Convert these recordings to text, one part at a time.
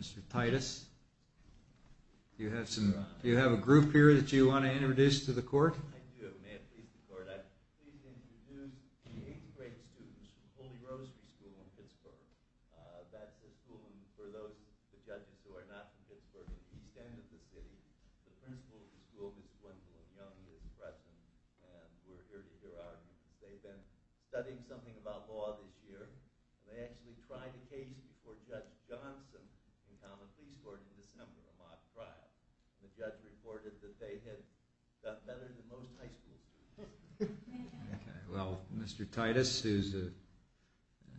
Mr. Titus, do you have a group here that you want to introduce to the court? I do, ma'am. Please record that. I'm pleased to introduce the eighth-grade students from Holy Rosary School in Pittsburgh. That's a school for those judges who are not from Pittsburgh. It's in the center of the city. The principal of the school was one of the young, new freshmen who are here today. They've been studying something about law this year. They actually tried a case before Judge Johnson in Common Pleas Court in December, a month prior. The judge reported that they had done better than most high school students. Okay. Well, Mr. Titus, who's an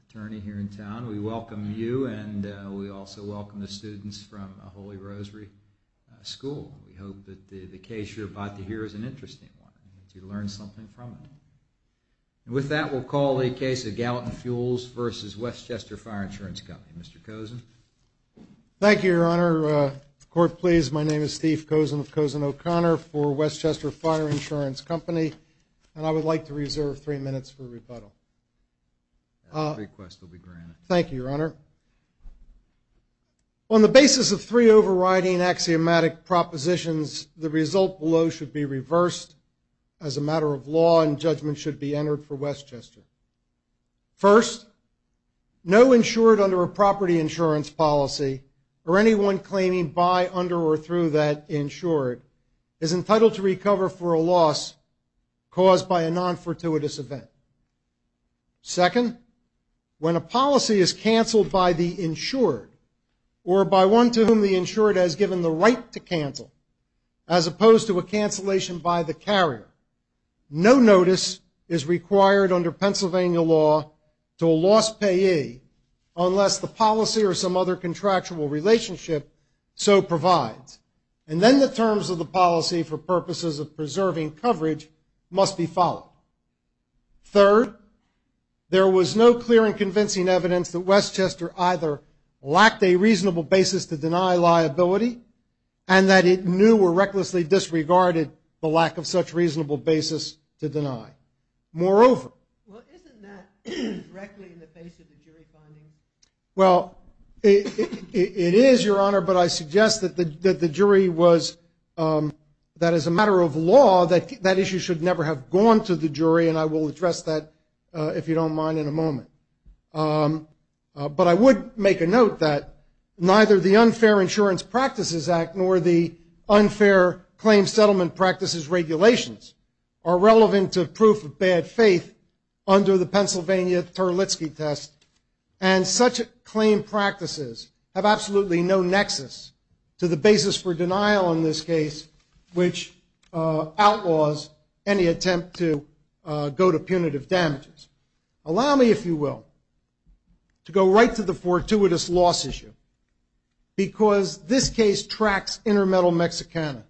attorney here in town, we welcome you, and we also welcome the students from Holy Rosary School. We hope that the case you're about to hear is an interesting one, that you learn something from it. And with that, we'll call the case of Galatin Fuels v. West Chester Fire Insurance Company. Mr. Kozin. Thank you, Your Honor. Court, please, my name is Steve Kozin of Kozin O'Connor for West Chester Fire Insurance Company, and I would like to reserve three minutes for rebuttal. The request will be granted. Thank you, Your Honor. On the basis of three overriding axiomatic propositions, the result below should be reversed as a matter of law and judgment should be entered for West Chester. First, no insured under a property insurance policy or anyone claiming by, under, or through that insured is entitled to recover for a loss caused by a non-fortuitous event. Second, when a policy is canceled by the insured or by one to whom the insured has given the right to cancel, as opposed to a cancellation by the carrier, no notice is required under Pennsylvania law to a loss payee unless the policy or some other contractual relationship so provides. And then the terms of the policy for purposes of preserving coverage must be followed. Third, there was no clear and convincing evidence that West Chester either lacked a reasonable basis to deny liability and that it knew or recklessly disregarded the lack of such reasonable basis to deny. Moreover. Well, isn't that directly in the face of the jury finding? Well, it is, Your Honor, but I suggest that the jury was, that as a matter of law, that issue should never have gone to the jury, and I will address that, if you don't mind, in a moment. But I would make a note that neither the Unfair Insurance Practices Act nor the Unfair Claim Settlement Practices Regulations are relevant to proof of bad faith under the Pennsylvania Terlitzky test, and such claim practices have absolutely no nexus to the basis for denial in this case, which outlaws any attempt to go to punitive damages. Allow me, if you will, to go right to the fortuitous loss issue, because this case tracks Intermetal Mexicana,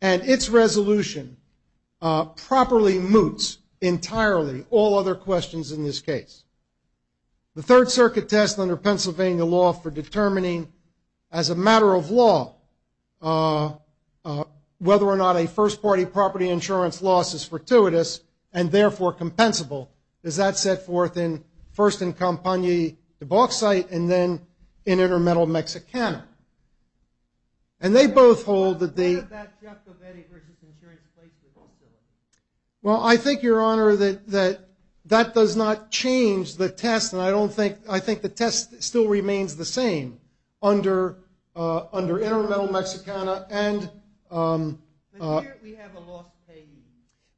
and its resolution properly moots entirely all other questions in this case. The Third Circuit test under Pennsylvania law for determining, as a matter of law, whether or not a first party property insurance loss is fortuitous and, therefore, compensable is that set forth first in Campagna de Bauxite and then in Intermetal Mexicana. And they both hold that they... What does that justify versus insurance claims? Well, I think, Your Honor, that that does not change the test, and I don't think, I think the test still remains the same under Intermetal Mexicana and... But here we have a lost case.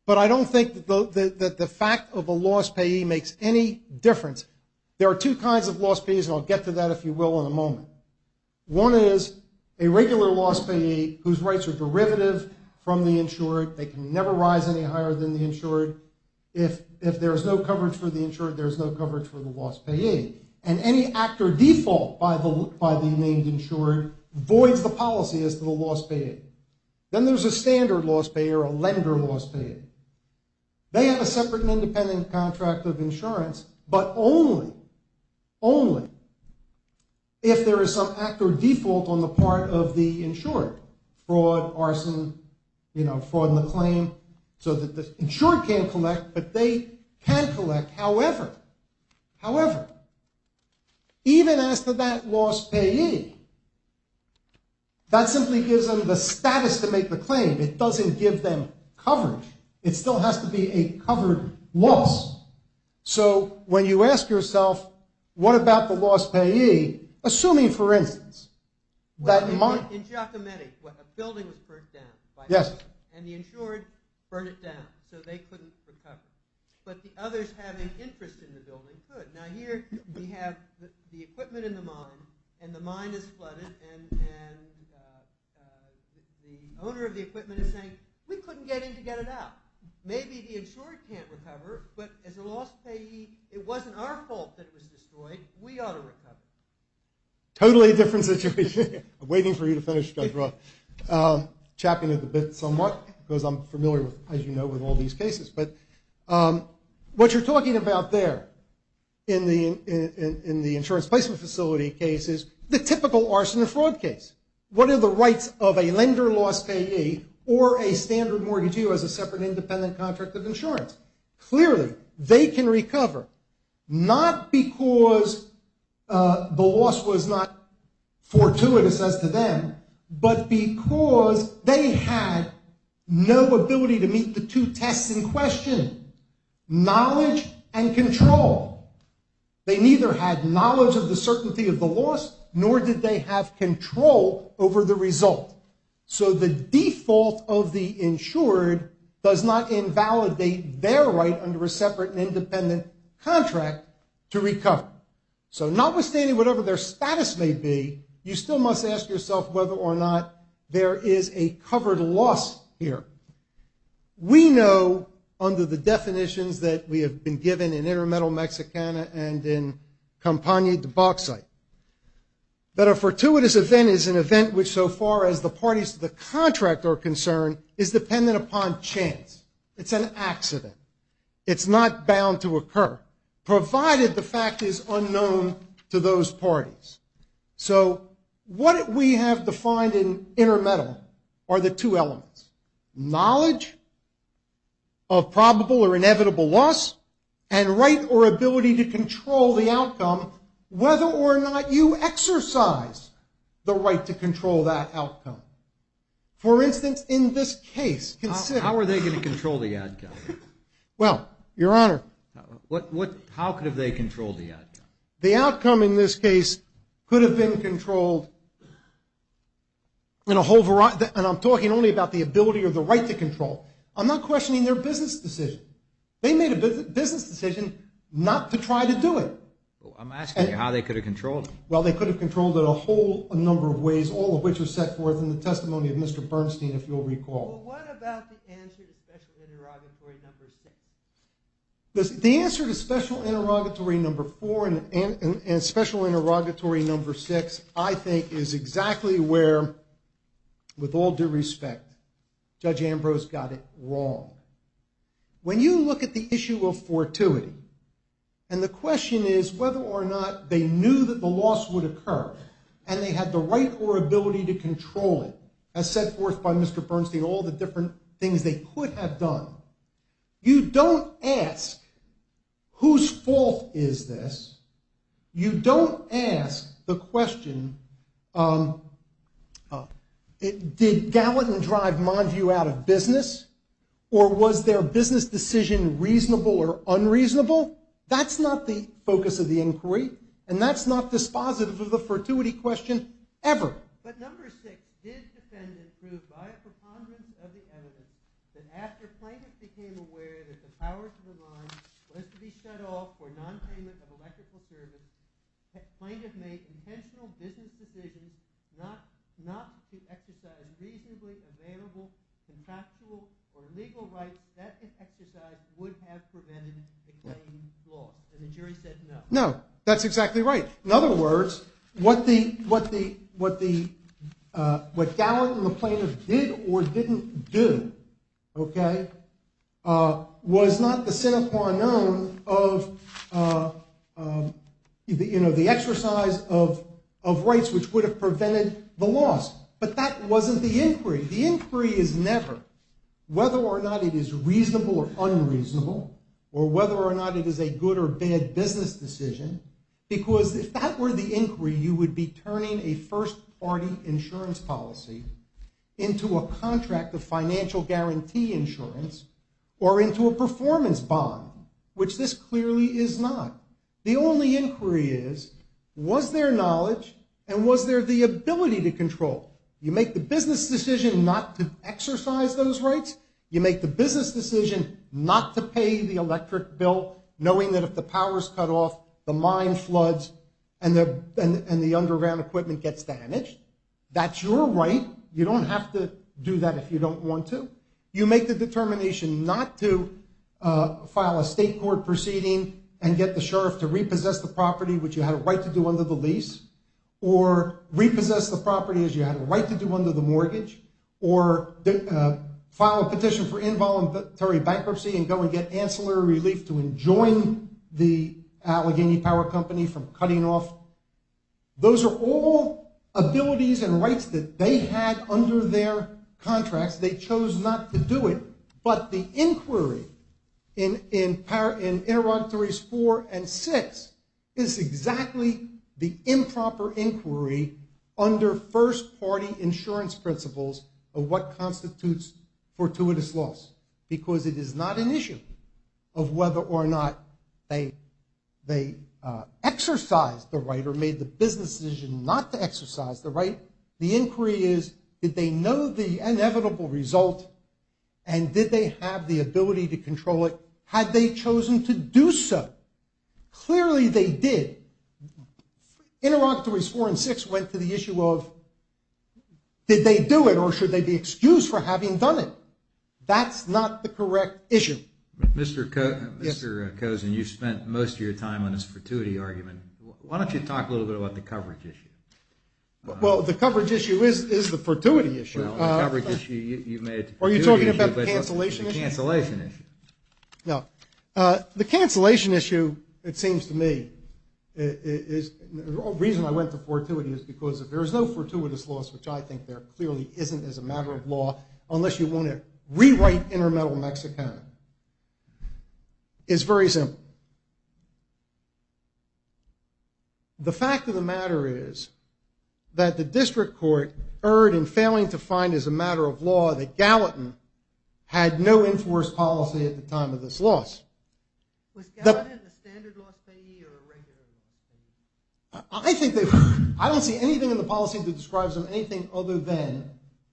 But I don't think that the fact of a lost payee makes any difference. There are two kinds of lost payees, and I'll get to that, if you will, in a moment. One is a regular lost payee whose rights are derivative from the insured. They can never rise any higher than the insured. If there is no coverage for the insured, there is no coverage for the lost payee. And any act or default by the named insured voids the policy as to the lost payee. Then there's a standard lost payee or a lender lost payee. They have a separate and independent contract of insurance, but only, only if there is some act or default on the part of the insured. Fraud, arson, you know, fraud in the claim, so that the insured can't collect, but they can collect. However, however, even as to that lost payee, that simply gives them the status to make the claim. It doesn't give them coverage. It still has to be a covered loss. So when you ask yourself, what about the lost payee, assuming, for instance, that... In Giacometti, a building was burned down by the insured, and the insured burned it down, so they couldn't recover. But the others having interest in the building could. Now, here we have the equipment in the mine, and the mine is flooded, and the owner of the equipment is saying, we couldn't get in to get it out. Maybe the insured can't recover, but as a lost payee, it wasn't our fault that it was destroyed. We ought to recover. Totally different situation. I'm waiting for you to finish, Judge Roth. Chapping it a bit somewhat, because I'm familiar, as you know, with all these cases. But what you're talking about there in the insurance placement facility case is the typical arson and fraud case. What are the rights of a lender lost payee or a standard mortgagee who has a separate independent contract of insurance? Clearly, they can recover, not because the loss was not fortuitous as to them, but because they had no ability to meet the two tests in question, knowledge and control. They neither had knowledge of the certainty of the loss, nor did they have control over the result. So the default of the insured does not invalidate their right under a separate and independent contract to recover. So notwithstanding whatever their status may be, you still must ask yourself whether or not there is a covered loss here. We know, under the definitions that we have been given in Intermetal Mexicana and in Compania de Bauxite, that a fortuitous event is an event which, so far as the parties to the contract are concerned, is dependent upon chance. It's not bound to occur, provided the fact is unknown to those parties. So what we have defined in Intermetal are the two elements. Knowledge of probable or inevitable loss, and right or ability to control the outcome, whether or not you exercise the right to control that outcome. For instance, in this case, consider... How are they going to control the outcome? Well, Your Honor... How could they control the outcome? The outcome in this case could have been controlled in a whole variety... And I'm talking only about the ability or the right to control. I'm not questioning their business decision. They made a business decision not to try to do it. I'm asking you how they could have controlled it. Well, they could have controlled it a whole number of ways, all of which are set forth in the testimony of Mr. Bernstein, if you'll recall. Well, what about the answer to Special Interrogatory No. 6? The answer to Special Interrogatory No. 4 and Special Interrogatory No. 6, I think, is exactly where, with all due respect, Judge Ambrose got it wrong. When you look at the issue of fortuity, and the question is whether or not they knew that the loss would occur, and they had the right or ability to control it, as set forth by Mr. Bernstein, all the different things they could have done, you don't ask whose fault is this. You don't ask the question, did Gallatin drive Mondew out of business, or was their business decision reasonable or unreasonable? That's not the focus of the inquiry, and that's not dispositive of the fortuity question ever. But No. 6 did defend and prove, by a preponderance of the evidence, that after plaintiffs became aware that the power to the line was to be set off for nonpayment of electrical service, plaintiffs made intentional business decisions not to exercise reasonably available contractual or legal rights that, if exercised, would have prevented the claim being lost. And the jury said no. No, that's exactly right. In other words, what Gallatin and the plaintiffs did or didn't do, okay, was not the sine qua non of the exercise of rights which would have prevented the loss. But that wasn't the inquiry. The inquiry is never whether or not it is reasonable or unreasonable, or whether or not it is a good or bad business decision, because if that were the inquiry, you would be turning a first-party insurance policy into a contract of financial guarantee insurance or into a performance bond, which this clearly is not. The only inquiry is, was there knowledge and was there the ability to control? You make the business decision not to exercise those rights. You make the business decision not to pay the electric bill, knowing that if the power is cut off, the mine floods and the underground equipment gets damaged. That's your right. You don't have to do that if you don't want to. You make the determination not to file a state court proceeding and get the sheriff to repossess the property, which you had a right to do under the lease, or repossess the property as you had a right to do under the mortgage, or file a petition for involuntary bankruptcy and go and get ancillary relief to enjoin the Allegheny Power Company from cutting off. Those are all abilities and rights that they had under their contracts. They chose not to do it, but the inquiry in Interrogatories 4 and 6 is exactly the improper inquiry under first-party insurance principles of what constitutes fortuitous loss, because it is not an issue of whether or not they exercised the right or made the business decision not to exercise the right. The inquiry is did they know the inevitable result and did they have the ability to control it? Had they chosen to do so? Clearly they did. Interrogatories 4 and 6 went to the issue of did they do it or should they be excused for having done it? That's not the correct issue. Mr. Cozen, you spent most of your time on this fortuity argument. Why don't you talk a little bit about the coverage issue? Well, the coverage issue is the fortuity issue. Well, the coverage issue, you made it the fortuity issue. Are you talking about the cancellation issue? The cancellation issue. No. The cancellation issue, it seems to me, the reason I went to fortuity is because if there is no fortuitous loss, which I think there clearly isn't as a matter of law, unless you want to rewrite Intermetal Mexico, it's very simple. The fact of the matter is that the district court erred in failing to find as a matter of law that Gallatin had no enforced policy at the time of this loss. Was Gallatin a standard loss payee or a regular loss payee? I don't see anything in the policy that describes him as anything other than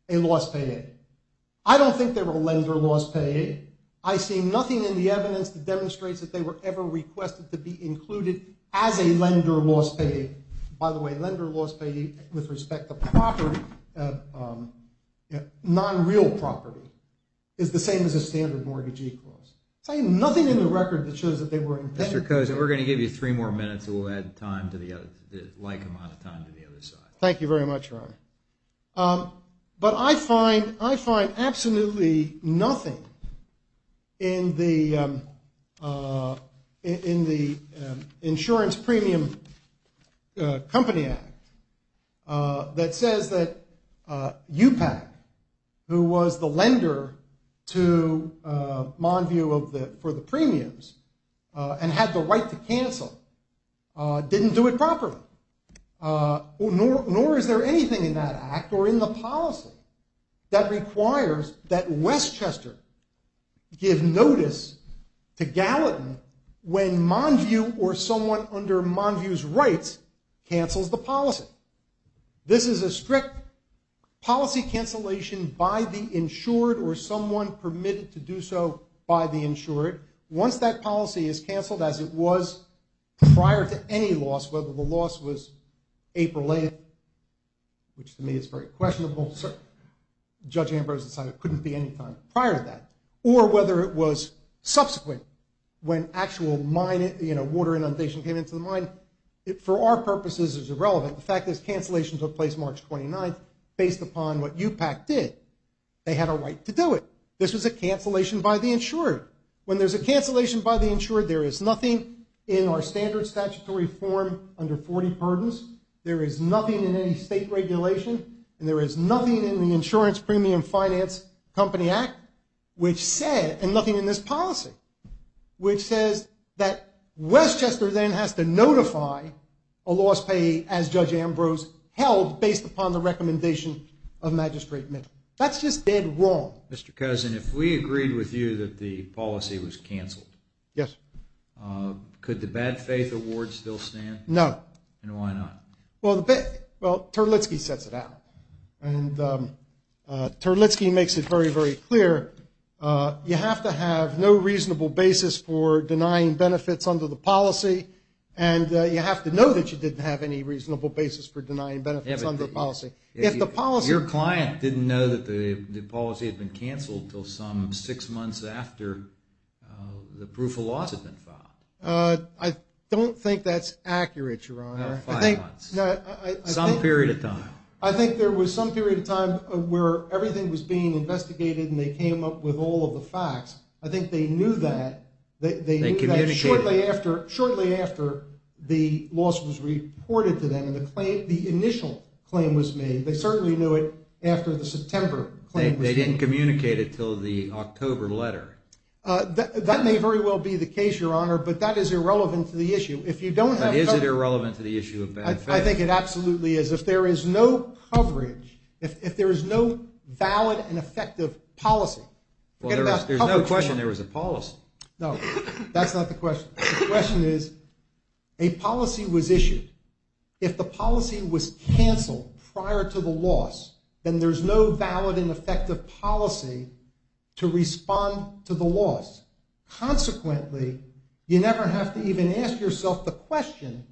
a loss payee. I don't think they were a lender loss payee. I see nothing in the evidence that demonstrates that they were ever requested to be included as a lender loss payee. By the way, lender loss payee, with respect to property, non-real property, is the same as a standard mortgage equals. I see nothing in the record that shows that they were intended to be. Mr. Cozen, we're going to give you three more minutes, and we'll add the like amount of time to the other side. Thank you very much, Ron. But I find absolutely nothing in the Insurance Premium Company Act that says that UPAC, who was the lender to Monview for the premiums and had the right to cancel, didn't do it properly. Nor is there anything in that act or in the policy that requires that Westchester give notice to Gallatin when Monview or someone under Monview's rights cancels the policy. This is a strict policy cancellation by the insured or someone permitted to do so by the insured. Once that policy is canceled, as it was prior to any loss, whether the loss was April 8th, which to me is very questionable, Judge Ambrose decided it couldn't be any time prior to that, or whether it was subsequent when actual water inundation came into the mine, for our purposes it's irrelevant. The fact is cancellations took place March 29th. Based upon what UPAC did, they had a right to do it. This was a cancellation by the insured. When there's a cancellation by the insured, there is nothing in our standard statutory form under 40 pardons. There is nothing in any state regulation, and there is nothing in the Insurance Premium Finance Company Act, and nothing in this policy, which says that Westchester then has to notify a loss payee as Judge Ambrose held based upon the recommendation of Magistrate Mitchell. That's just dead wrong. Mr. Kozin, if we agreed with you that the policy was canceled. Yes. Could the bad faith award still stand? No. And why not? Well, Terlitzky sets it out, and Terlitzky makes it very, very clear. You have to have no reasonable basis for denying benefits under the policy, and you have to know that you didn't have any reasonable basis for denying benefits under the policy. Your client didn't know that the policy had been canceled until some six months after the proof of loss had been filed. I don't think that's accurate, Your Honor. Five months. Some period of time. I think there was some period of time where everything was being investigated and they came up with all of the facts. I think they knew that shortly after the loss was reported to them and the initial claim was made. They certainly knew it after the September claim was made. They didn't communicate it until the October letter. That may very well be the case, Your Honor, but that is irrelevant to the issue. But is it irrelevant to the issue of benefits? I think it absolutely is. If there is no coverage, if there is no valid and effective policy. There's no question there was a policy. No, that's not the question. The question is, a policy was issued. If the policy was canceled prior to the loss, then there's no valid and effective policy to respond to the loss. Consequently, you never have to even ask yourself the question,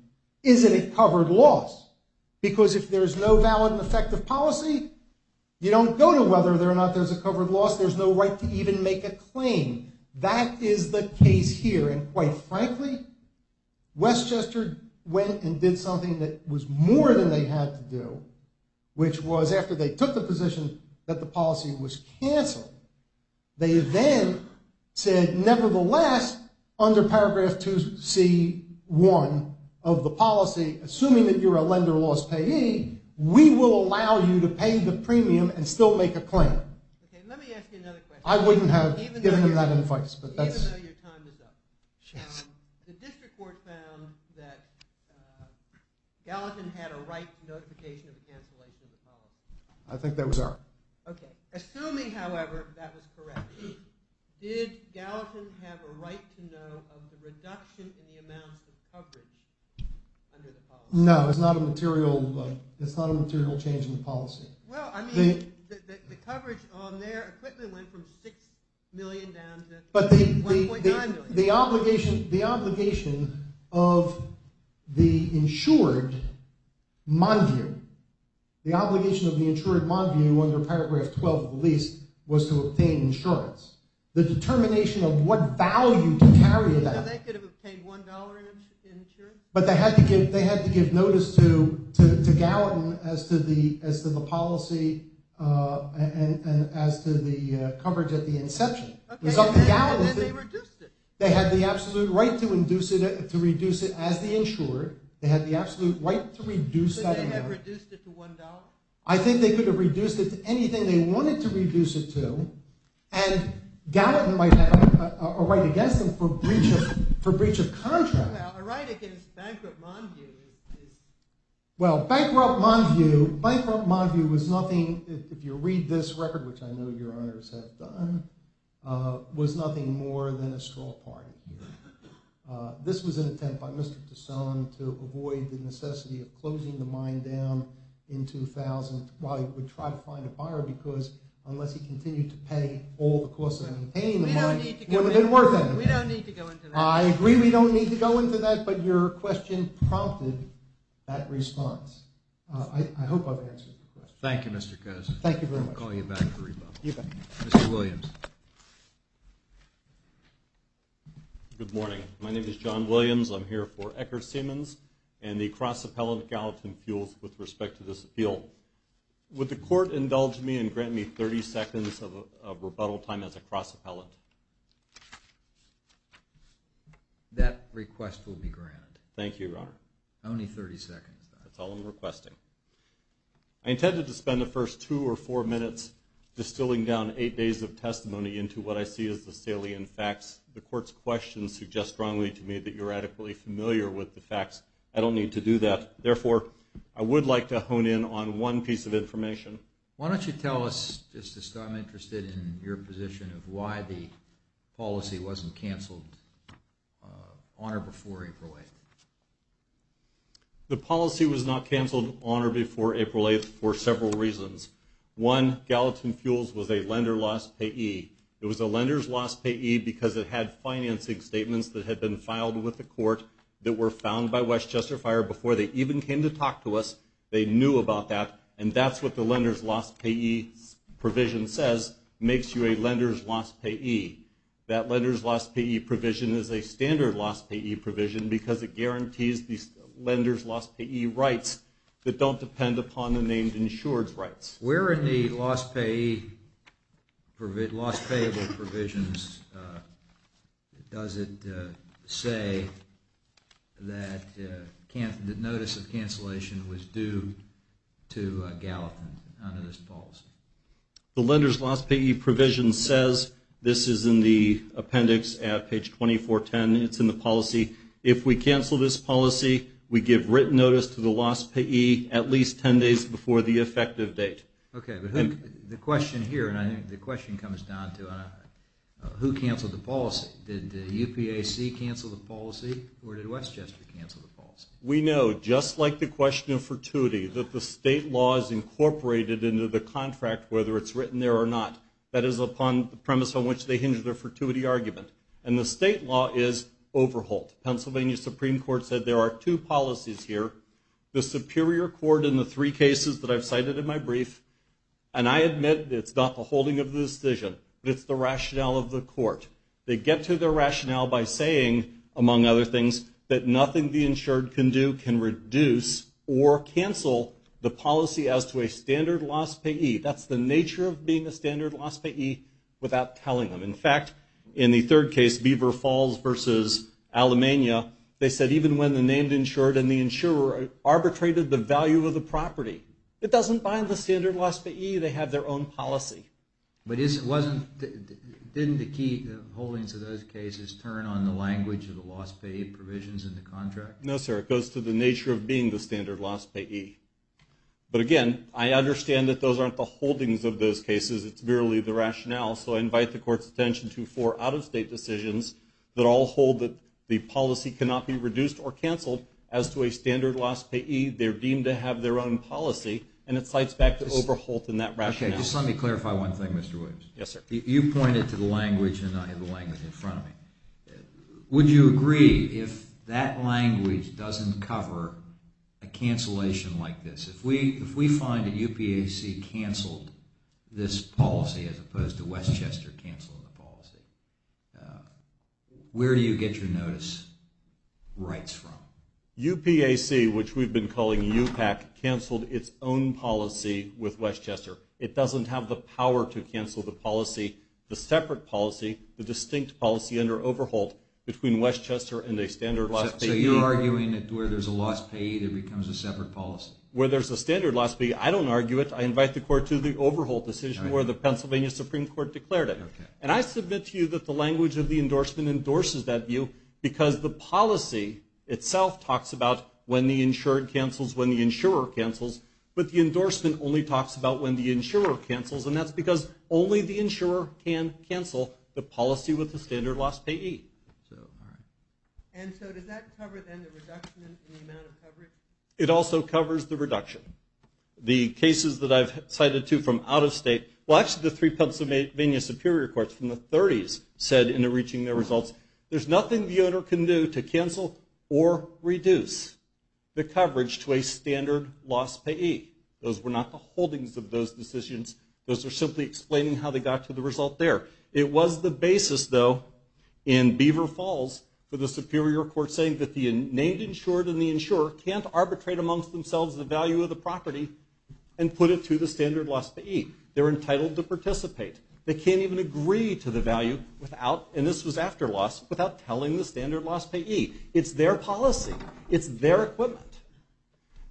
is it a covered loss? Because if there's no valid and effective policy, you don't know whether or not there's a covered loss. There's no right to even make a claim. That is the case here. And quite frankly, Westchester went and did something that was more than they had to do, which was after they took the position that the policy was canceled, they then said, nevertheless, under paragraph 2C1 of the policy, assuming that you're a lender loss payee, we will allow you to pay the premium and still make a claim. Okay, let me ask you another question. I wouldn't have given him that advice. Even though your time is up. The district court found that Gallatin had a right notification of the cancellation of the policy. I think that was our... Okay. Assuming, however, that was correct, did Gallatin have a right to know of the reduction in the amount of coverage under the policy? No, it's not a material change in the policy. Well, I mean, the coverage on their equipment went from 6 million down to 1.9 million. But the obligation of the insured Monview, the obligation of the insured Monview under paragraph 12 of the lease was to obtain insurance. The determination of what value to carry that. So they could have obtained $1 in insurance? But they had to give notice to Gallatin as to the policy and as to the coverage at the inception. Okay, and then they reduced it. They had the absolute right to reduce it as the insured. They had the absolute right to reduce that amount. But they had reduced it to $1? I think they could have reduced it to anything they wanted to reduce it to. And Gallatin might have a right against them for breach of contract. Well, a right against bankrupt Monview is... Well, bankrupt Monview was nothing, if you read this record, which I know your honors have done, was nothing more than a straw party. This was an attempt by Mr. Tasson to avoid the necessity of closing the mine down in 2000 while he would try to find a buyer because unless he continued to pay all the costs of maintaining the mine, it would have been worth it. We don't need to go into that. I agree we don't need to go into that, but your question prompted that response. I hope I've answered the question. Thank you, Mr. Coz. Thank you very much. I'm calling you back for rebuttal. You bet. Mr. Williams. Good morning. My name is John Williams. I'm here for Ecker Siemens and the cross-appellant Gallatin Fuels with respect to this appeal. Would the court indulge me and grant me 30 seconds of rebuttal time as a cross-appellant? That request will be granted. Thank you, Your Honor. Only 30 seconds, though. That's all I'm requesting. I intended to spend the first two or four minutes distilling down eight days of testimony into what I see as the salient facts. The court's questions suggest strongly to me that you're adequately familiar with the facts. I don't need to do that. Why don't you tell us, Justice, because I'm interested in your position of why the policy wasn't canceled on or before April 8th. The policy was not canceled on or before April 8th for several reasons. One, Gallatin Fuels was a lender-loss payee. It was a lender's-loss payee because it had financing statements that had been filed with the court that were found by Westchester Fire before they even came to talk to us. They knew about that, and that's what the lender's-loss payee provision says, makes you a lender's-loss payee. That lender's-loss payee provision is a standard loss payee provision because it guarantees the lender's-loss payee rights that don't depend upon the named insured's rights. Where in the loss payee, loss payable provisions does it say that the notice of cancellation was due to Gallatin under this policy? The lender's-loss payee provision says this is in the appendix at page 2410. It's in the policy. If we cancel this policy, we give written notice to the loss payee at least 10 days before the effective date. Okay, but the question here, and I think the question comes down to Did UPAC cancel the policy, or did Westchester cancel the policy? We know just like the question of fortuity that the state law is incorporated into the contract whether it's written there or not. That is upon the premise on which they hinge their fortuity argument. And the state law is overhauled. Pennsylvania Supreme Court said there are two policies here. The Superior Court in the three cases that I've cited in my brief, and I admit it's not the holding of the decision, but it's the rationale of the court. They get to their rationale by saying, among other things, that nothing the insured can do can reduce or cancel the policy as to a standard loss payee. That's the nature of being a standard loss payee without telling them. In fact, in the third case, Beaver Falls versus Alamania, they said even when the named insured and the insurer arbitrated the value of the property, it doesn't bind the standard loss payee. They have their own policy. But didn't the key holdings of those cases turn on the language of the loss payee provisions in the contract? No, sir. It goes to the nature of being the standard loss payee. But again, I understand that those aren't the holdings of those cases. It's merely the rationale. So I invite the court's attention to four out-of-state decisions that all hold that the policy cannot be reduced or canceled as to a standard loss payee. They're deemed to have their own policy, and it slides back to overhaul in that rationale. Okay, just let me clarify one thing, Mr. Williams. Yes, sir. You pointed to the language and I have the language in front of me. Would you agree if that language doesn't cover a cancellation like this? If we find that UPAC canceled this policy as opposed to Westchester canceling the policy, where do you get your notice rights from? UPAC, which we've been calling UPAC, canceled its own policy with Westchester. It doesn't have the power to cancel the policy, the separate policy, the distinct policy under overhaul between Westchester and a standard loss payee. So you're arguing that where there's a loss payee, there becomes a separate policy? Where there's a standard loss payee, I don't argue it. I invite the court to the overhaul decision where the Pennsylvania Supreme Court declared it. Okay. And I submit to you that the language of the endorsement endorses that view because the policy itself talks about when the insured cancels, when the insurer cancels, but the endorsement only talks about when the insurer cancels, and that's because only the insurer can cancel the policy with the standard loss payee. And so does that cover, then, the reduction in the amount of coverage? It also covers the reduction. The cases that I've cited to from out of state, well, actually, the three Pennsylvania Superior Courts from the 30s said in reaching their results, there's nothing the owner can do to cancel or reduce the coverage to a standard loss payee. Those were not the holdings of those decisions. Those are simply explaining how they got to the result there. It was the basis, though, in Beaver Falls for the Superior Court saying that the named insured and the insurer can't arbitrate amongst themselves the value of the property and put it to the standard loss payee. They're entitled to participate. They can't even agree to the value without, and this was after loss, without telling the standard loss payee. It's their policy. It's their equipment.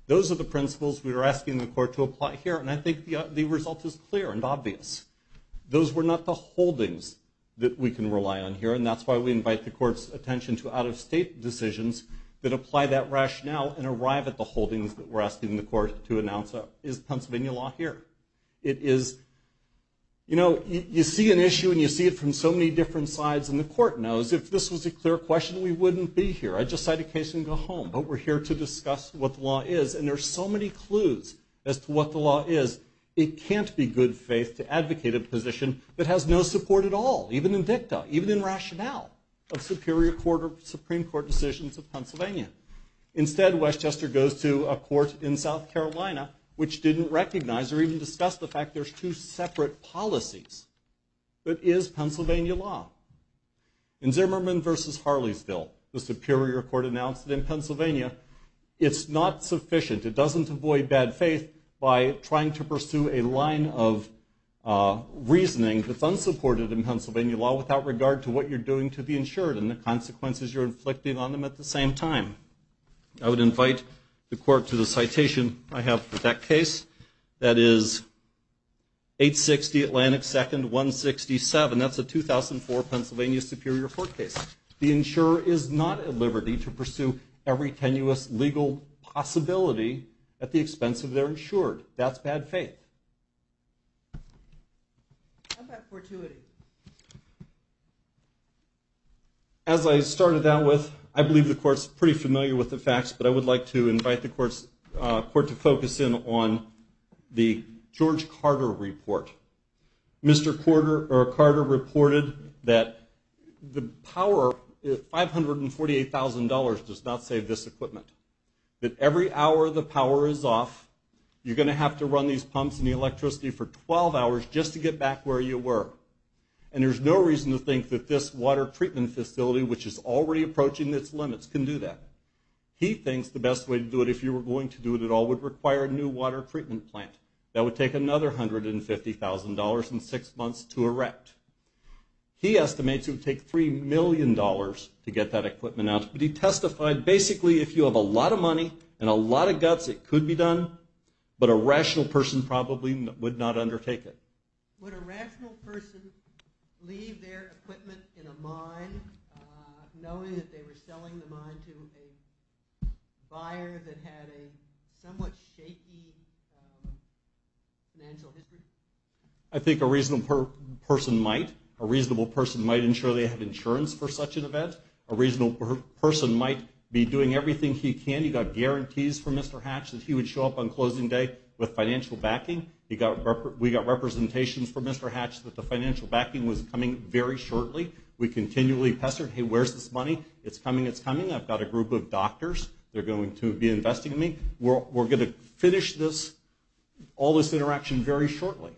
Those are the principles we are asking the court to apply here, and I think the result is clear and obvious. Those were not the holdings that we can rely on here, and that's why we invite the court's attention to out-of-state decisions that apply that rationale and arrive at the holdings that we're asking the court to announce is Pennsylvania law here. It is, you know, you see an issue and you see it from so many different sides, and the court knows if this was a clear question, we wouldn't be here. I'd just cite a case and go home, but we're here to discuss what the law is, and there are so many clues as to what the law is. It can't be good faith to advocate a position that has no support at all, even in dicta, even in rationale of Superior Court or Supreme Court decisions of Pennsylvania. Instead, Westchester goes to a court in South Carolina which didn't recognize or even discuss the fact there's two separate policies, but is Pennsylvania law? In Zimmerman v. Harleysville, the Superior Court announced that in Pennsylvania it's not sufficient, it doesn't avoid bad faith by trying to pursue a line of reasoning that's unsupported in Pennsylvania law without regard to what you're doing to the insured and the consequences you're inflicting on them at the same time. I would invite the court to the citation I have for that case. That is 860 Atlantic 2nd 167. That's a 2004 Pennsylvania Superior Court case. The insurer is not at liberty to pursue every tenuous legal possibility at the expense of their insured. That's bad faith. How about fortuity? As I started out with, I believe the court's pretty familiar with the facts, but I would like to invite the court to focus in on the George Carter report. Mr. Carter reported that the power, $548,000 does not save this equipment. That every hour the power is off, you're going to have to run these pumps and the electricity for 12 hours just to get back where you were. And there's no reason to think that this water treatment facility, which is already approaching its limits, can do that. He thinks the best way to do it, if you were going to do it at all, would require a new water treatment plant. That would take another $150,000 and six months to erect. He estimates it would take $3 million to get that equipment out. But he testified, basically, if you have a lot of money and a lot of guts, it could be done, but a rational person probably would not undertake it. Would a rational person leave their equipment in a mine knowing that they were selling the mine to a buyer that had a somewhat shaky financial history? I think a reasonable person might. A reasonable person might ensure they have insurance for such an event. A reasonable person might be doing everything he can. He got guarantees from Mr. Hatch that he would show up on closing day with financial backing. We got representations from Mr. Hatch that the financial backing was coming very shortly. We continually pestered, hey, where's this money? It's coming, it's coming. I've got a group of doctors. They're going to be investing in me. We're going to finish all this interaction very shortly.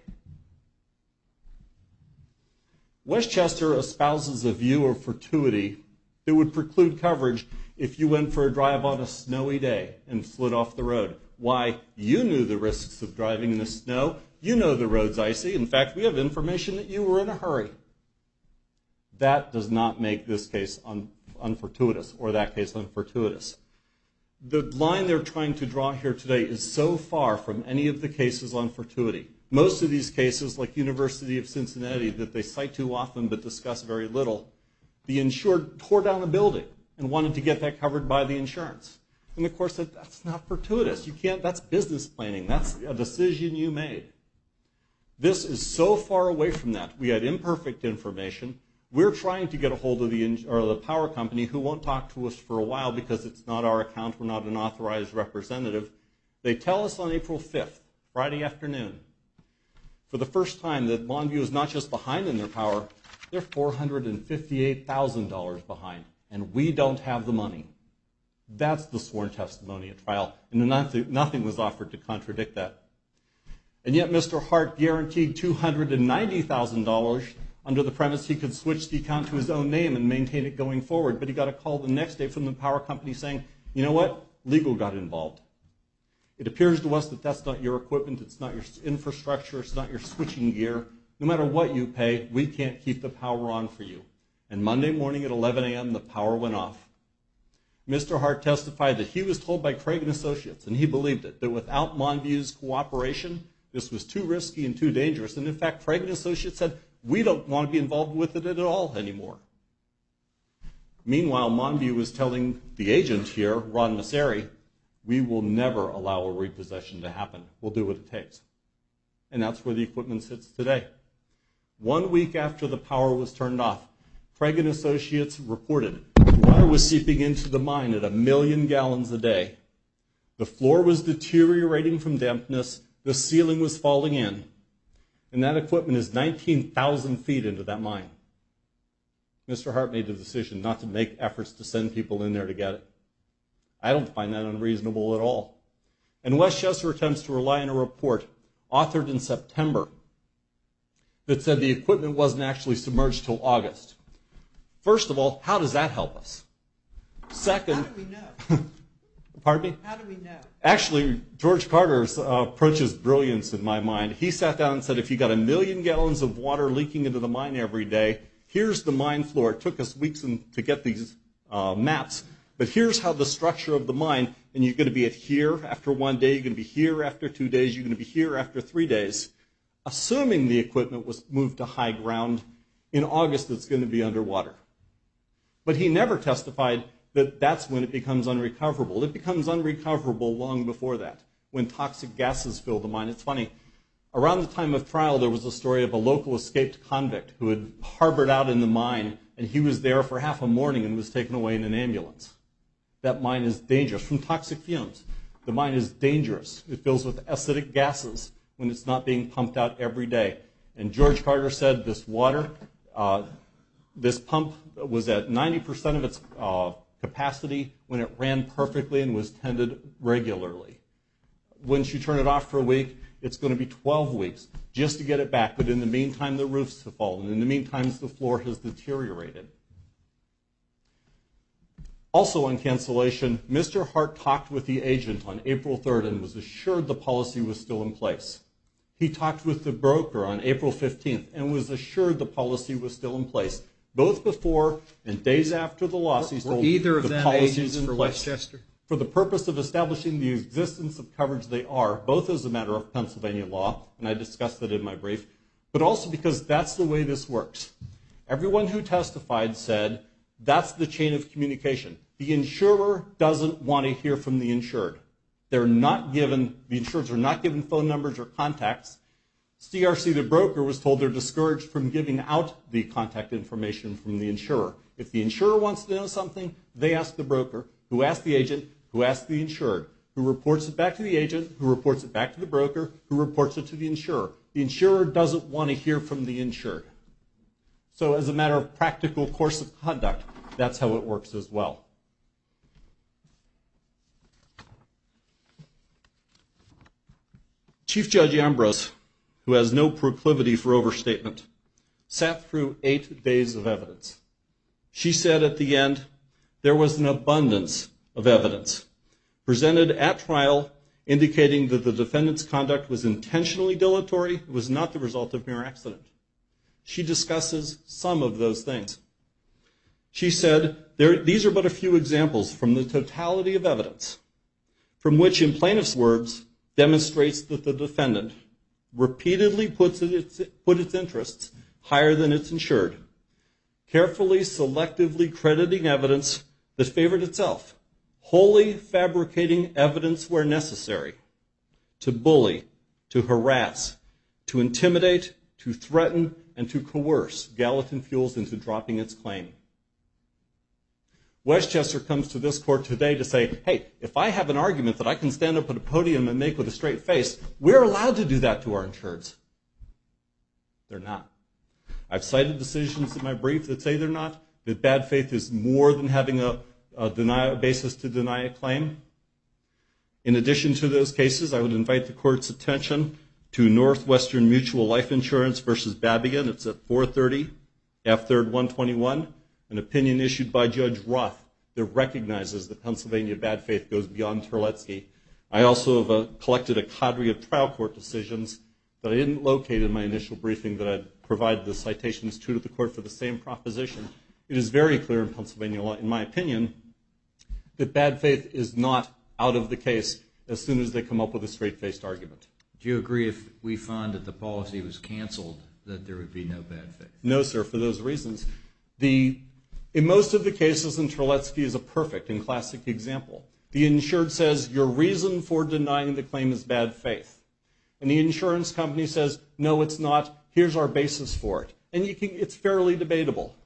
Westchester espouses a view of fortuity that would preclude coverage if you went for a drive on a snowy day and flood off the road. Why? You knew the risks of driving in the snow. You know the road's icy. In fact, we have information that you were in a hurry. That does not make this case unfortuitous, or that case unfortuitous. The line they're trying to draw here today is so far from any of the cases on fortuity. Most of these cases, like University of Cincinnati, that they cite too often but discuss very little, the insured tore down a building and wanted to get that covered by the insurance. And the court said, that's not fortuitous. You can't, that's business planning. That's a decision you made. This is so far away from that. We had imperfect information. We're trying to get a hold of the power company who won't talk to us for a while because it's not our account. We're not an authorized representative. They tell us on April 5th, Friday afternoon, for the first time, that Lawn View is not just behind in their power, they're $458,000 behind, and we don't have the money. That's the sworn testimony at trial, and nothing was offered to contradict that. And yet Mr. Hart guaranteed $290,000. Under the premise he could switch the account to his own name and maintain it going forward, but he got a call the next day from the power company saying, you know what? Legal got involved. It appears to us that that's not your equipment, it's not your infrastructure, it's not your switching gear. No matter what you pay, we can't keep the power on for you. And Monday morning at 11 a.m., the power went off. Mr. Hart testified that he was told by Cragen Associates, and he believed it, that without Lawn View's cooperation, this was too risky and too dangerous. And in fact, Cragen Associates said, we don't want to be involved with it at all anymore. Meanwhile, Lawn View was telling the agent here, Ron Masseri, we will never allow a repossession to happen. We'll do what it takes. And that's where the equipment sits today. One week after the power was turned off, Cragen Associates reported, water was seeping into the mine at a million gallons a day. The floor was deteriorating from dampness. The ceiling was falling in. And that equipment is 19,000 feet into that mine. Mr. Hart made the decision not to make efforts to send people in there to get it. I don't find that unreasonable at all. And Wes Chesser attempts to rely on a report authored in September that said the equipment wasn't actually submerged until August. First of all, how does that help us? Second... How do we know? Pardon me? How do we know? Actually, George Carter's approach is brilliant in my mind. He sat down and said, if you've got a million gallons of water leaking into the mine every day, here's the mine floor. It took us weeks to get these maps. But here's how the structure of the mine... And you're going to be here after one day. You're going to be here after two days. You're going to be here after three days. Assuming the equipment was moved to high ground, in August it's going to be underwater. But he never testified that that's when it becomes unrecoverable. It becomes unrecoverable long before that, when toxic gases fill the mine. It's funny. Around the time of trial, there was a story of a local escaped convict who had harbored out in the mine, and he was there for half a morning and was taken away in an ambulance. That mine is dangerous from toxic fumes. The mine is dangerous. It fills with acidic gases when it's not being pumped out every day. And George Carter said this water... This pump was at 90% of its capacity when it ran perfectly and was tended regularly. Once you turn it off for a week, it's going to be 12 weeks just to get it back. But in the meantime, the roofs have fallen. In the meantime, the floor has deteriorated. Also on cancellation, Mr. Hart talked with the agent on April 3rd and was assured the policy was still in place. He talked with the broker on April 15th and was assured the policy was still in place, both before and days after the loss. For the purpose of establishing the existence of coverage they are, both as a matter of Pennsylvania law, and I discussed that in my brief, but also because that's the way this works. Everyone who testified said that's the chain of communication. The insurer doesn't want to hear from the insured. They're not given... The insurers are not given phone numbers or contacts. CRC, the broker, was told they're discouraged from giving out the contact information from the insurer. If the insurer wants to know something, they ask the broker, who asked the agent, who asked the insured, who reports it back to the agent, who reports it back to the broker, who reports it to the insurer. The insurer doesn't want to hear from the insured. So as a matter of practical course of conduct, that's how it works as well. Chief Judge Ambrose, who has no proclivity for overstatement, sat through eight days of evidence. She said at the end, there was an abundance of evidence presented at trial indicating that the defendant's conduct was intentionally dilatory. It was not the result of mere accident. She discusses some of those things. She said, these are but a few examples from the totality of evidence from which, in plaintiff's words, demonstrates that the defendant repeatedly put its interests higher than its insured, carefully, selectively crediting evidence that favored itself, wholly fabricating evidence where necessary to bully, to harass, to intimidate, to threaten, and to coerce Gallatin Fuels into dropping its claim. Westchester comes to this court today to say, hey, if I have an argument that I can stand up at a podium and make with a straight face, we're allowed to do that to our insureds. They're not. I've cited decisions in my brief that say they're not, that bad faith is more than having a basis to deny a claim. In addition to those cases, I would invite the court's attention to Northwestern Mutual Life Insurance versus Babigan. It's at 430 F3rd 121, an opinion issued by Judge Roth that recognizes that Pennsylvania bad faith goes beyond Terletzky. I also have collected a cadre of trial court decisions that I didn't locate in my initial briefing that I'd provide the citations to the court for the same proposition. It is very clear in Pennsylvania law, in my opinion, that bad faith is not out of the case as soon as they come up with a straight-faced argument. Do you agree if we find that the policy was canceled that there would be no bad faith? No, sir, for those reasons. In most of the cases, Terletzky is a perfect and classic example. The insured says, your reason for denying the claim is bad faith. And the insurance company says, no, it's not. Here's our basis for it. And it's fairly debatable.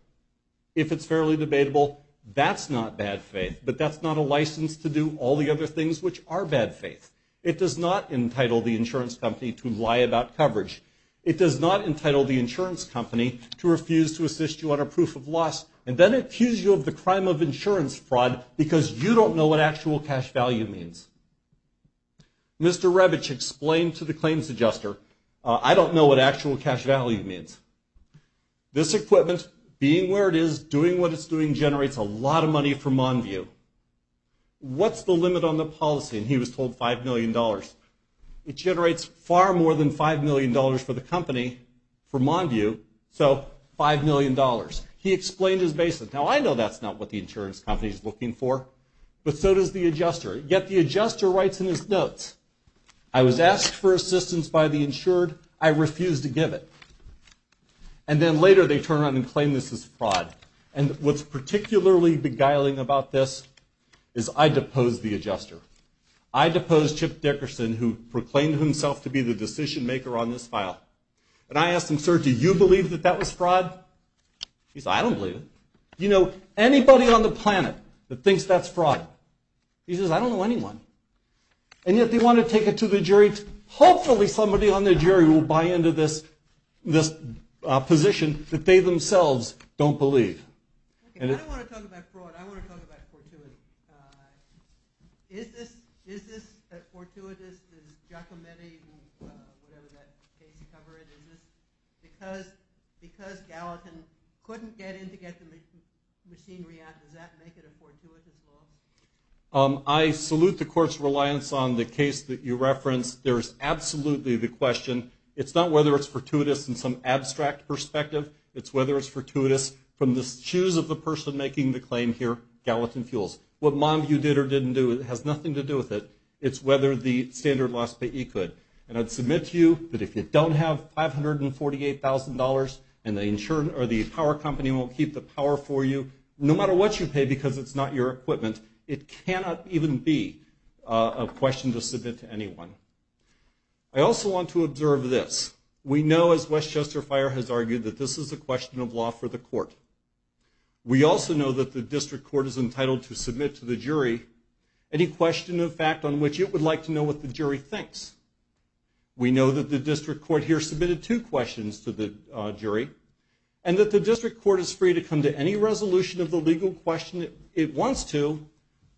If it's fairly debatable, that's not bad faith, but that's not a license to do all the other things which are bad faith. It does not entitle the insurance company to lie about coverage. It does not entitle the insurance company to refuse to assist you on a proof of loss, and then accuse you of the crime of insurance fraud because you don't know what actual cash value means. Mr. Rebich explained to the claims adjuster, I don't know what actual cash value means. This equipment, being where it is, doing what it's doing generates a lot of money for Monview. What's the limit on the policy? And he was told $5 million. It generates far more than $5 million for the company, for Monview, so $5 million. He explained his basis. Now, I know that's not what the insurance company is looking for, but so does the adjuster. Yet the adjuster writes in his notes, I was asked for assistance by the insured. I refused to give it. And then later they turn around and claim this is fraud. And what's particularly beguiling about this is I deposed the adjuster. I deposed Chip Dickerson, who proclaimed himself to be the decision maker on this file. And I asked him, sir, do you believe that that was fraud? He said, I don't believe it. Do you know anybody on the planet that thinks that's fraud? He says, I don't know anyone. And yet they want to take it to the jury. Hopefully somebody on the jury will buy into this position that they themselves don't believe. I don't want to talk about fraud. I want to talk about fortuitous. Is this fortuitous? Does Giacometti, whatever that case cover it, is this because Gallatin couldn't get in to get the machinery out? Does that make it a fortuitous law? I salute the court's reliance on the case that you referenced. There's absolutely the question. It's not whether it's fortuitous in some abstract perspective. It's whether it's fortuitous from the shoes of the person making the claim here, Gallatin Fuels. What Monview did or didn't do has nothing to do with it. It's whether the standard loss payee could. And I'd submit to you that if you don't have $548,000 and the power company won't keep the power for you, no matter what you pay because it's not your equipment, it cannot even be a question to submit to anyone. I also want to observe this. We know, as Westchester Fire has argued, that this is a question of law for the court. We also know that the district court is entitled to submit to the jury any question of fact on which it would like to know what the jury thinks. We know that the district court here has submitted two questions to the jury and that the district court is free to come to any resolution of the legal question it wants to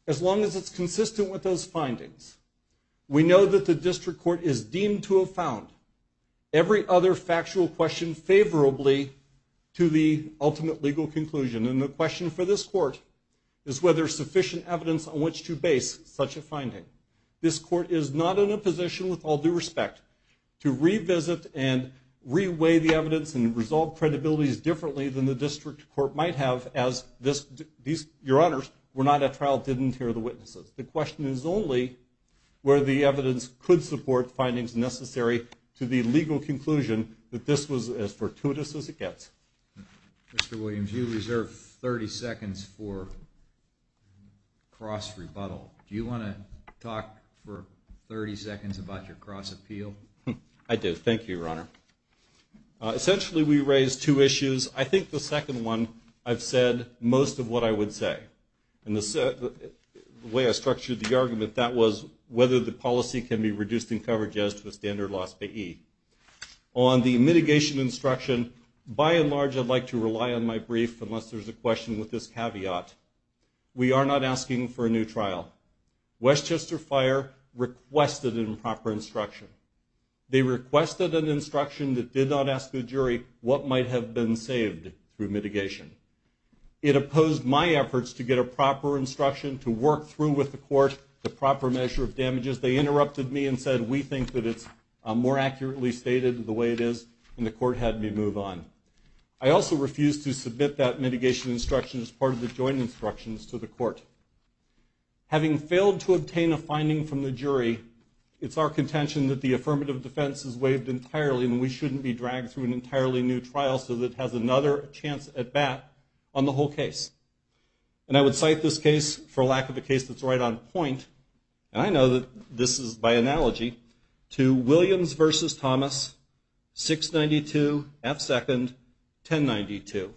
as long as it's consistent with those findings. We know that the district court is deemed to have found every other factual question favorably to the ultimate legal conclusion. And the question for this court is whether there's sufficient evidence on which to base such a finding. This court is not in a position, with all due respect, to revisit and re-weigh the evidence and resolve credibilities differently than the district court might have as your honors were not at trial and didn't hear the witnesses. The question is only where the evidence could support the findings necessary to the legal conclusion that this was as fortuitous as it gets. Mr. Williams, you reserve 30 seconds for cross-rebuttal. Do you want to talk for 30 seconds about your cross-appeal? I do. Thank you, Your Honor. Essentially, we raised two issues. I think the second one, I've said most of what I would say. And the way I structured the argument, that was whether the policy can be reduced in coverage as to a standard loss by E. On the mitigation instruction, by and large, I'd like to rely on my brief unless there's a question with this caveat. We are not asking for a new trial. Westchester Fire requested an improper instruction. They requested an instruction that did not ask the jury what might have been saved through mitigation. It opposed my efforts to get a proper instruction to work through with the court the proper measure of damages. They interrupted me and said, we think that it's more accurately stated the way it is, and the court had me move on. I also refused to submit that mitigation instruction as part of the joint instructions to the court. Having failed to obtain a finding from the jury, it's our contention that the affirmative defense is waived entirely, and we shouldn't be dragged through an entirely new trial so that it has another chance at bat on the whole case. And I would cite this case, for lack of a case that's right on point, and I know that this is by analogy, to Williams v. Thomas, 692 F. Second, 1092,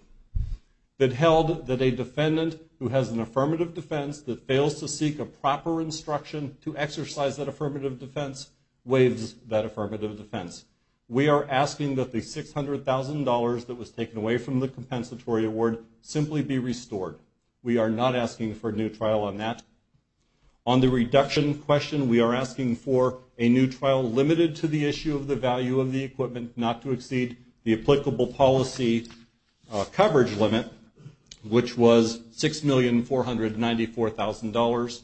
that held that a defendant who has an affirmative defense that fails to seek a proper instruction to exercise that affirmative defense waives that affirmative defense. We are asking that the $600,000 that was taken away from the compensatory award simply be restored. We are not asking for a new trial on that. On the reduction question, we are asking for a new trial limited to the issue of the value of the equipment, not to exceed the applicable policy coverage limit, which was $6,494,000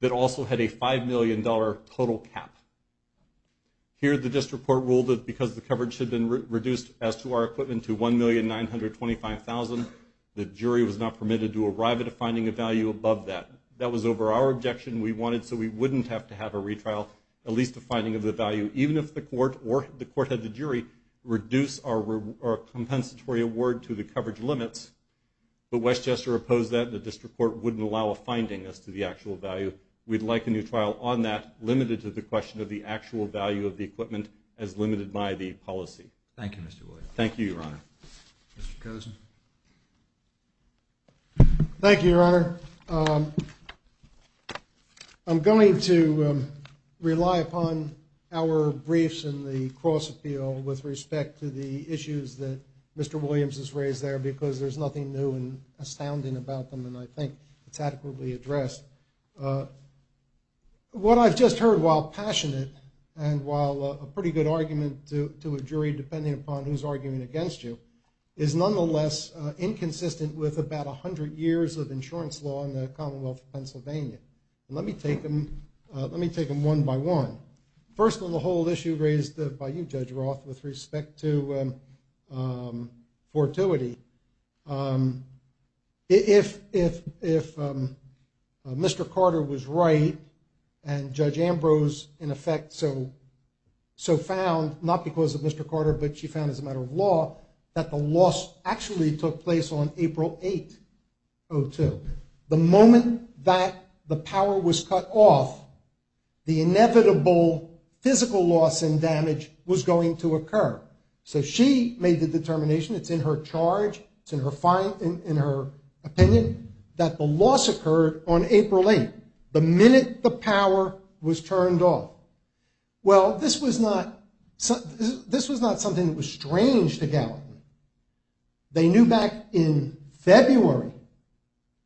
that also had a $5 million total cap. Here the district court ruled that because the coverage had been reduced as to our equipment to $1,925,000, the jury was not permitted to arrive at a finding of value above that. That was over our objection. We wanted so we wouldn't have to have a retrial, at least a finding of the value, even if the court or the court had the jury reduce our compensatory award to the coverage limits. But Westchester opposed that and the district court wouldn't allow a finding as to the actual value. We'd like a new trial on that limited to the question of the actual value of the equipment as limited by the policy. Thank you, Mr. Williams. Thank you, Your Honor. Mr. Kosen. Thank you, Your Honor. I'm going to rely upon our briefs in the cross-appeal with respect to the issues that Mr. Williams has raised there because there's nothing new and astounding about them and I think it's adequately addressed. What I've just heard, while passionate and while a pretty good argument to a jury depending upon who's arguing against you, is nonetheless inconsistent with about 100 years of insurance law in the Commonwealth of Pennsylvania. Let me take them one by one. First of all, the whole issue raised by you, Judge Roth, with respect to fortuity. If Mr. Carter was right and Judge Ambrose, in effect, so found, not because of Mr. Carter but she found as a matter of law, that the loss actually took place on April 8, 2002. The moment that the power was cut off, the inevitable physical loss and damage was going to occur. So she made the determination, it's in her charge, it's in her opinion, that the loss occurred on April 8, the minute the power was turned off. Well, this was not something that was strange to Gallagher. They knew back in February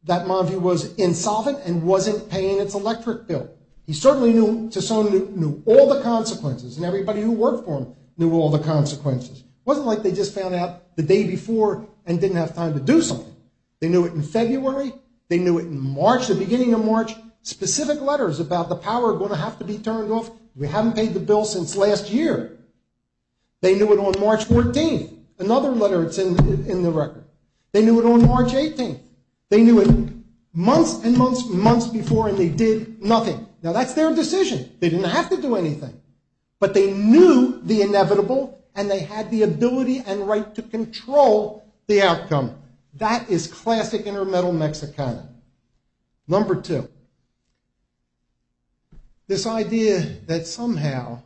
that Monview was insolvent and wasn't paying its electric bill. He certainly knew, all the consequences and everybody who worked for him knew all the consequences. It wasn't like they just found out the day before and didn't have time to do something. They knew it in February. They knew it in March, the beginning of March, specific letters about the power going to have to be turned off. We haven't paid the bill since last year. They knew it on March 14th, another letter that's in the record. They knew it on March 18th. They knew it months and months and months before and they did nothing. Now, that's their decision. They didn't have to do anything, but they knew the inevitable and they had the ability and right to control the outcome. That is classic intermittent Mexicana. Number two, this idea that somehow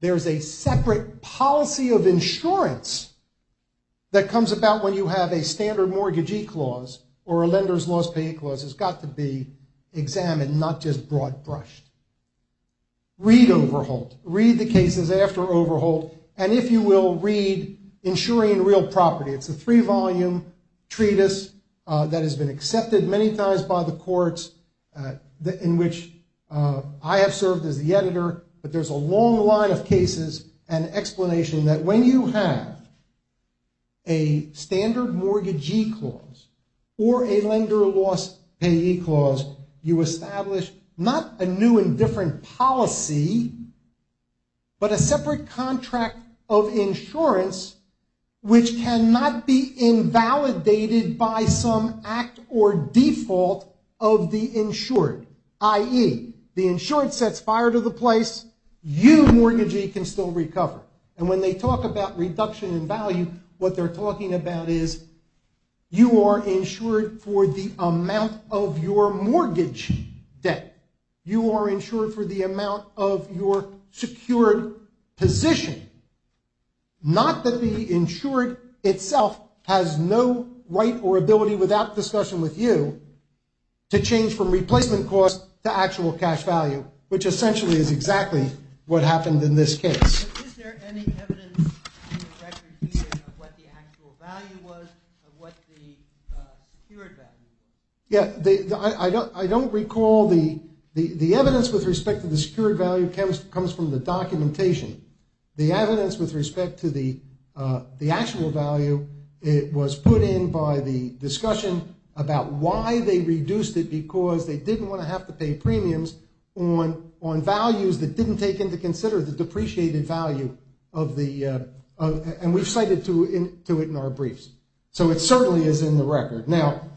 there's a separate policy of insurance that comes about when you have a standard mortgagee clause or a lender's loss paying clause has got to be examined, not just broad-brushed. Read Overholt. Read the cases after Overholt and if you will, read Insuring Real Property. It's a three-volume treatise that has been accepted many times by the courts in which I have served as the editor, but there's a long line of cases and explanation that when you have a standard mortgagee clause or a lender loss payee clause, you establish not a new and different policy, but a separate contract of insurance which cannot be invalidated by some act or default of the insured, i.e., the insured sets fire to the place, you mortgagee can still recover. And when they talk about reduction in value, what they're talking about is you are insured for the amount of your mortgage debt. You are insured for the amount of your secured position, not that the insured itself has no right or ability without discussion with you to change from replacement cost to actual cash value, which essentially is exactly what happened in this case. Is there any evidence in the record here of what the actual value was, of what the secured value was? Yeah, I don't recall the evidence with respect to the secured value comes from the documentation. The evidence with respect to the actual value, it was put in by the discussion about why they reduced it because they didn't want to have to pay premiums on values that didn't take into consider the depreciated value of the, and we've cited to it in our briefs. So it certainly is in the record. Now,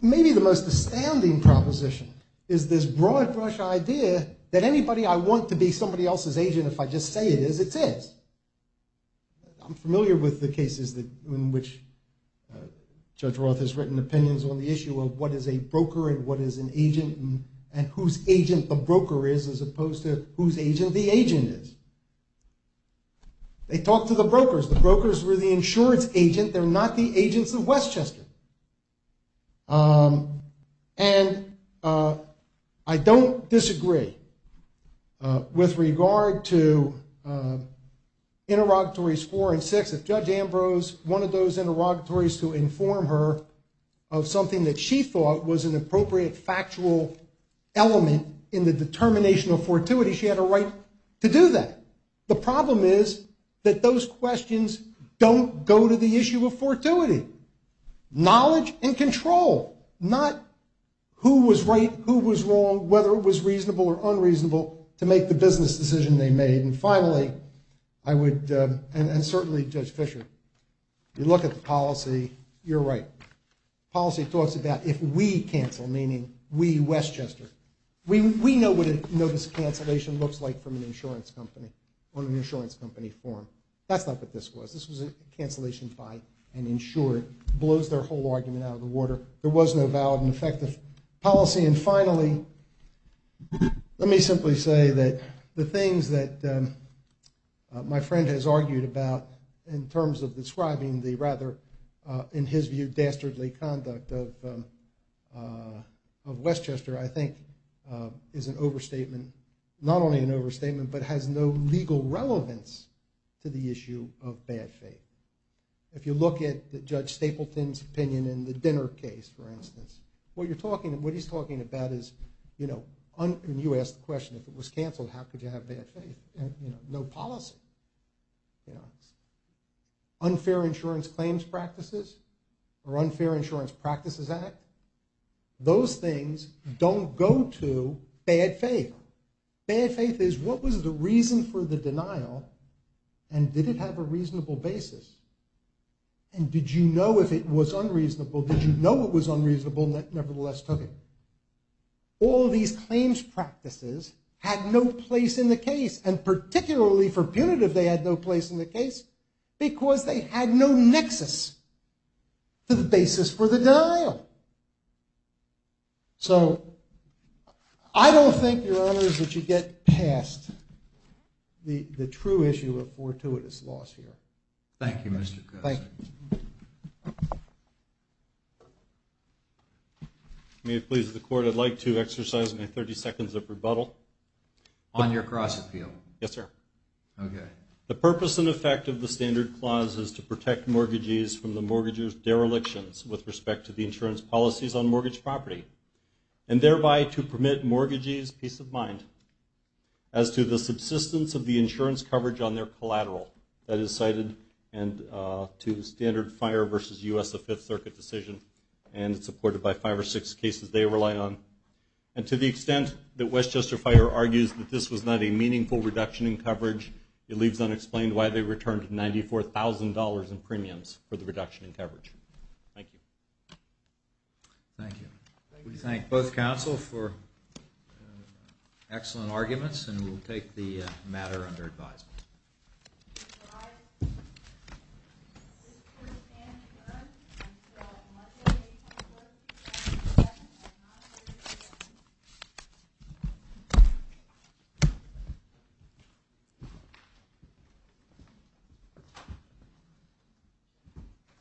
maybe the most astounding proposition is this broad brush idea that anybody I want to be somebody else's agent, if I just say it is, it's is. I'm familiar with the cases in which Judge Roth has written opinions on the issue of what is a broker and what is an agent and whose agent the broker is as opposed to whose agent the agent is. They talked to the brokers. The brokers were the insurance agent. They're not the agents of Westchester. And I don't disagree with regard to interrogatories four and six. If Judge Ambrose wanted those interrogatories to inform her of something that she thought was an appropriate factual element in the determination of fortuity, she had a right to do that. The problem is that those questions don't go to the issue of fortuity. Knowledge and control, not who was right, who was wrong, whether it was reasonable or unreasonable to make the business decision they made. And finally, I would, and certainly Judge Fischer, you look at the policy, you're right. Policy talks about if we cancel, meaning we, Westchester. We know what a notice of cancellation looks like from an insurance company on an insurance company form. That's not what this was. This was a cancellation by an insurer. It blows their whole argument out of the water. There was no valid and effective policy. And finally, let me simply say that the things that my friend has argued about in terms of describing the rather, in his view, dastardly conduct of Westchester I think is an overstatement. Not only an overstatement, but has no legal relevance to the issue of bad faith. If you look at Judge Stapleton's opinion in the dinner case, for instance, what you're talking, what he's talking about is, and you asked the question, if it was canceled, how could you have bad faith? No policy. Unfair insurance claims practices or unfair insurance practices act, those things don't go to bad faith. Bad faith is, what was the reason for the denial and did it have a reasonable basis? And did you know if it was unreasonable? Did you know it was unreasonable and nevertheless took it? All these claims practices had no place in the case, and particularly for punitive, they had no place in the case because they had no nexus to the basis for the denial. So, I don't think, Your Honors, that you get past the true issue of fortuitous loss here. Thank you, Mr. Krause. Thank you. May it please the Court, I'd like to exercise my 30 seconds of rebuttal. On your cross-appeal? Yes, sir. Okay. The purpose and effect of the Standard Clause is to protect mortgagees from the mortgager's derelictions with respect to the insurance policies on mortgage property and thereby to permit mortgagees peace of mind as to the subsistence of the insurance coverage on their collateral. That is cited to Standard Fire versus U.S. Fifth Circuit decision and supported by five or six cases they rely on. And to the extent that Westchester Fire argues that this was not a meaningful reduction in coverage, it leaves unexplained why they returned $94,000 in premiums for the reduction in coverage. Thank you. Thank you. We thank both counsel for excellent arguments and we'll take the matter under advisement. Thank you.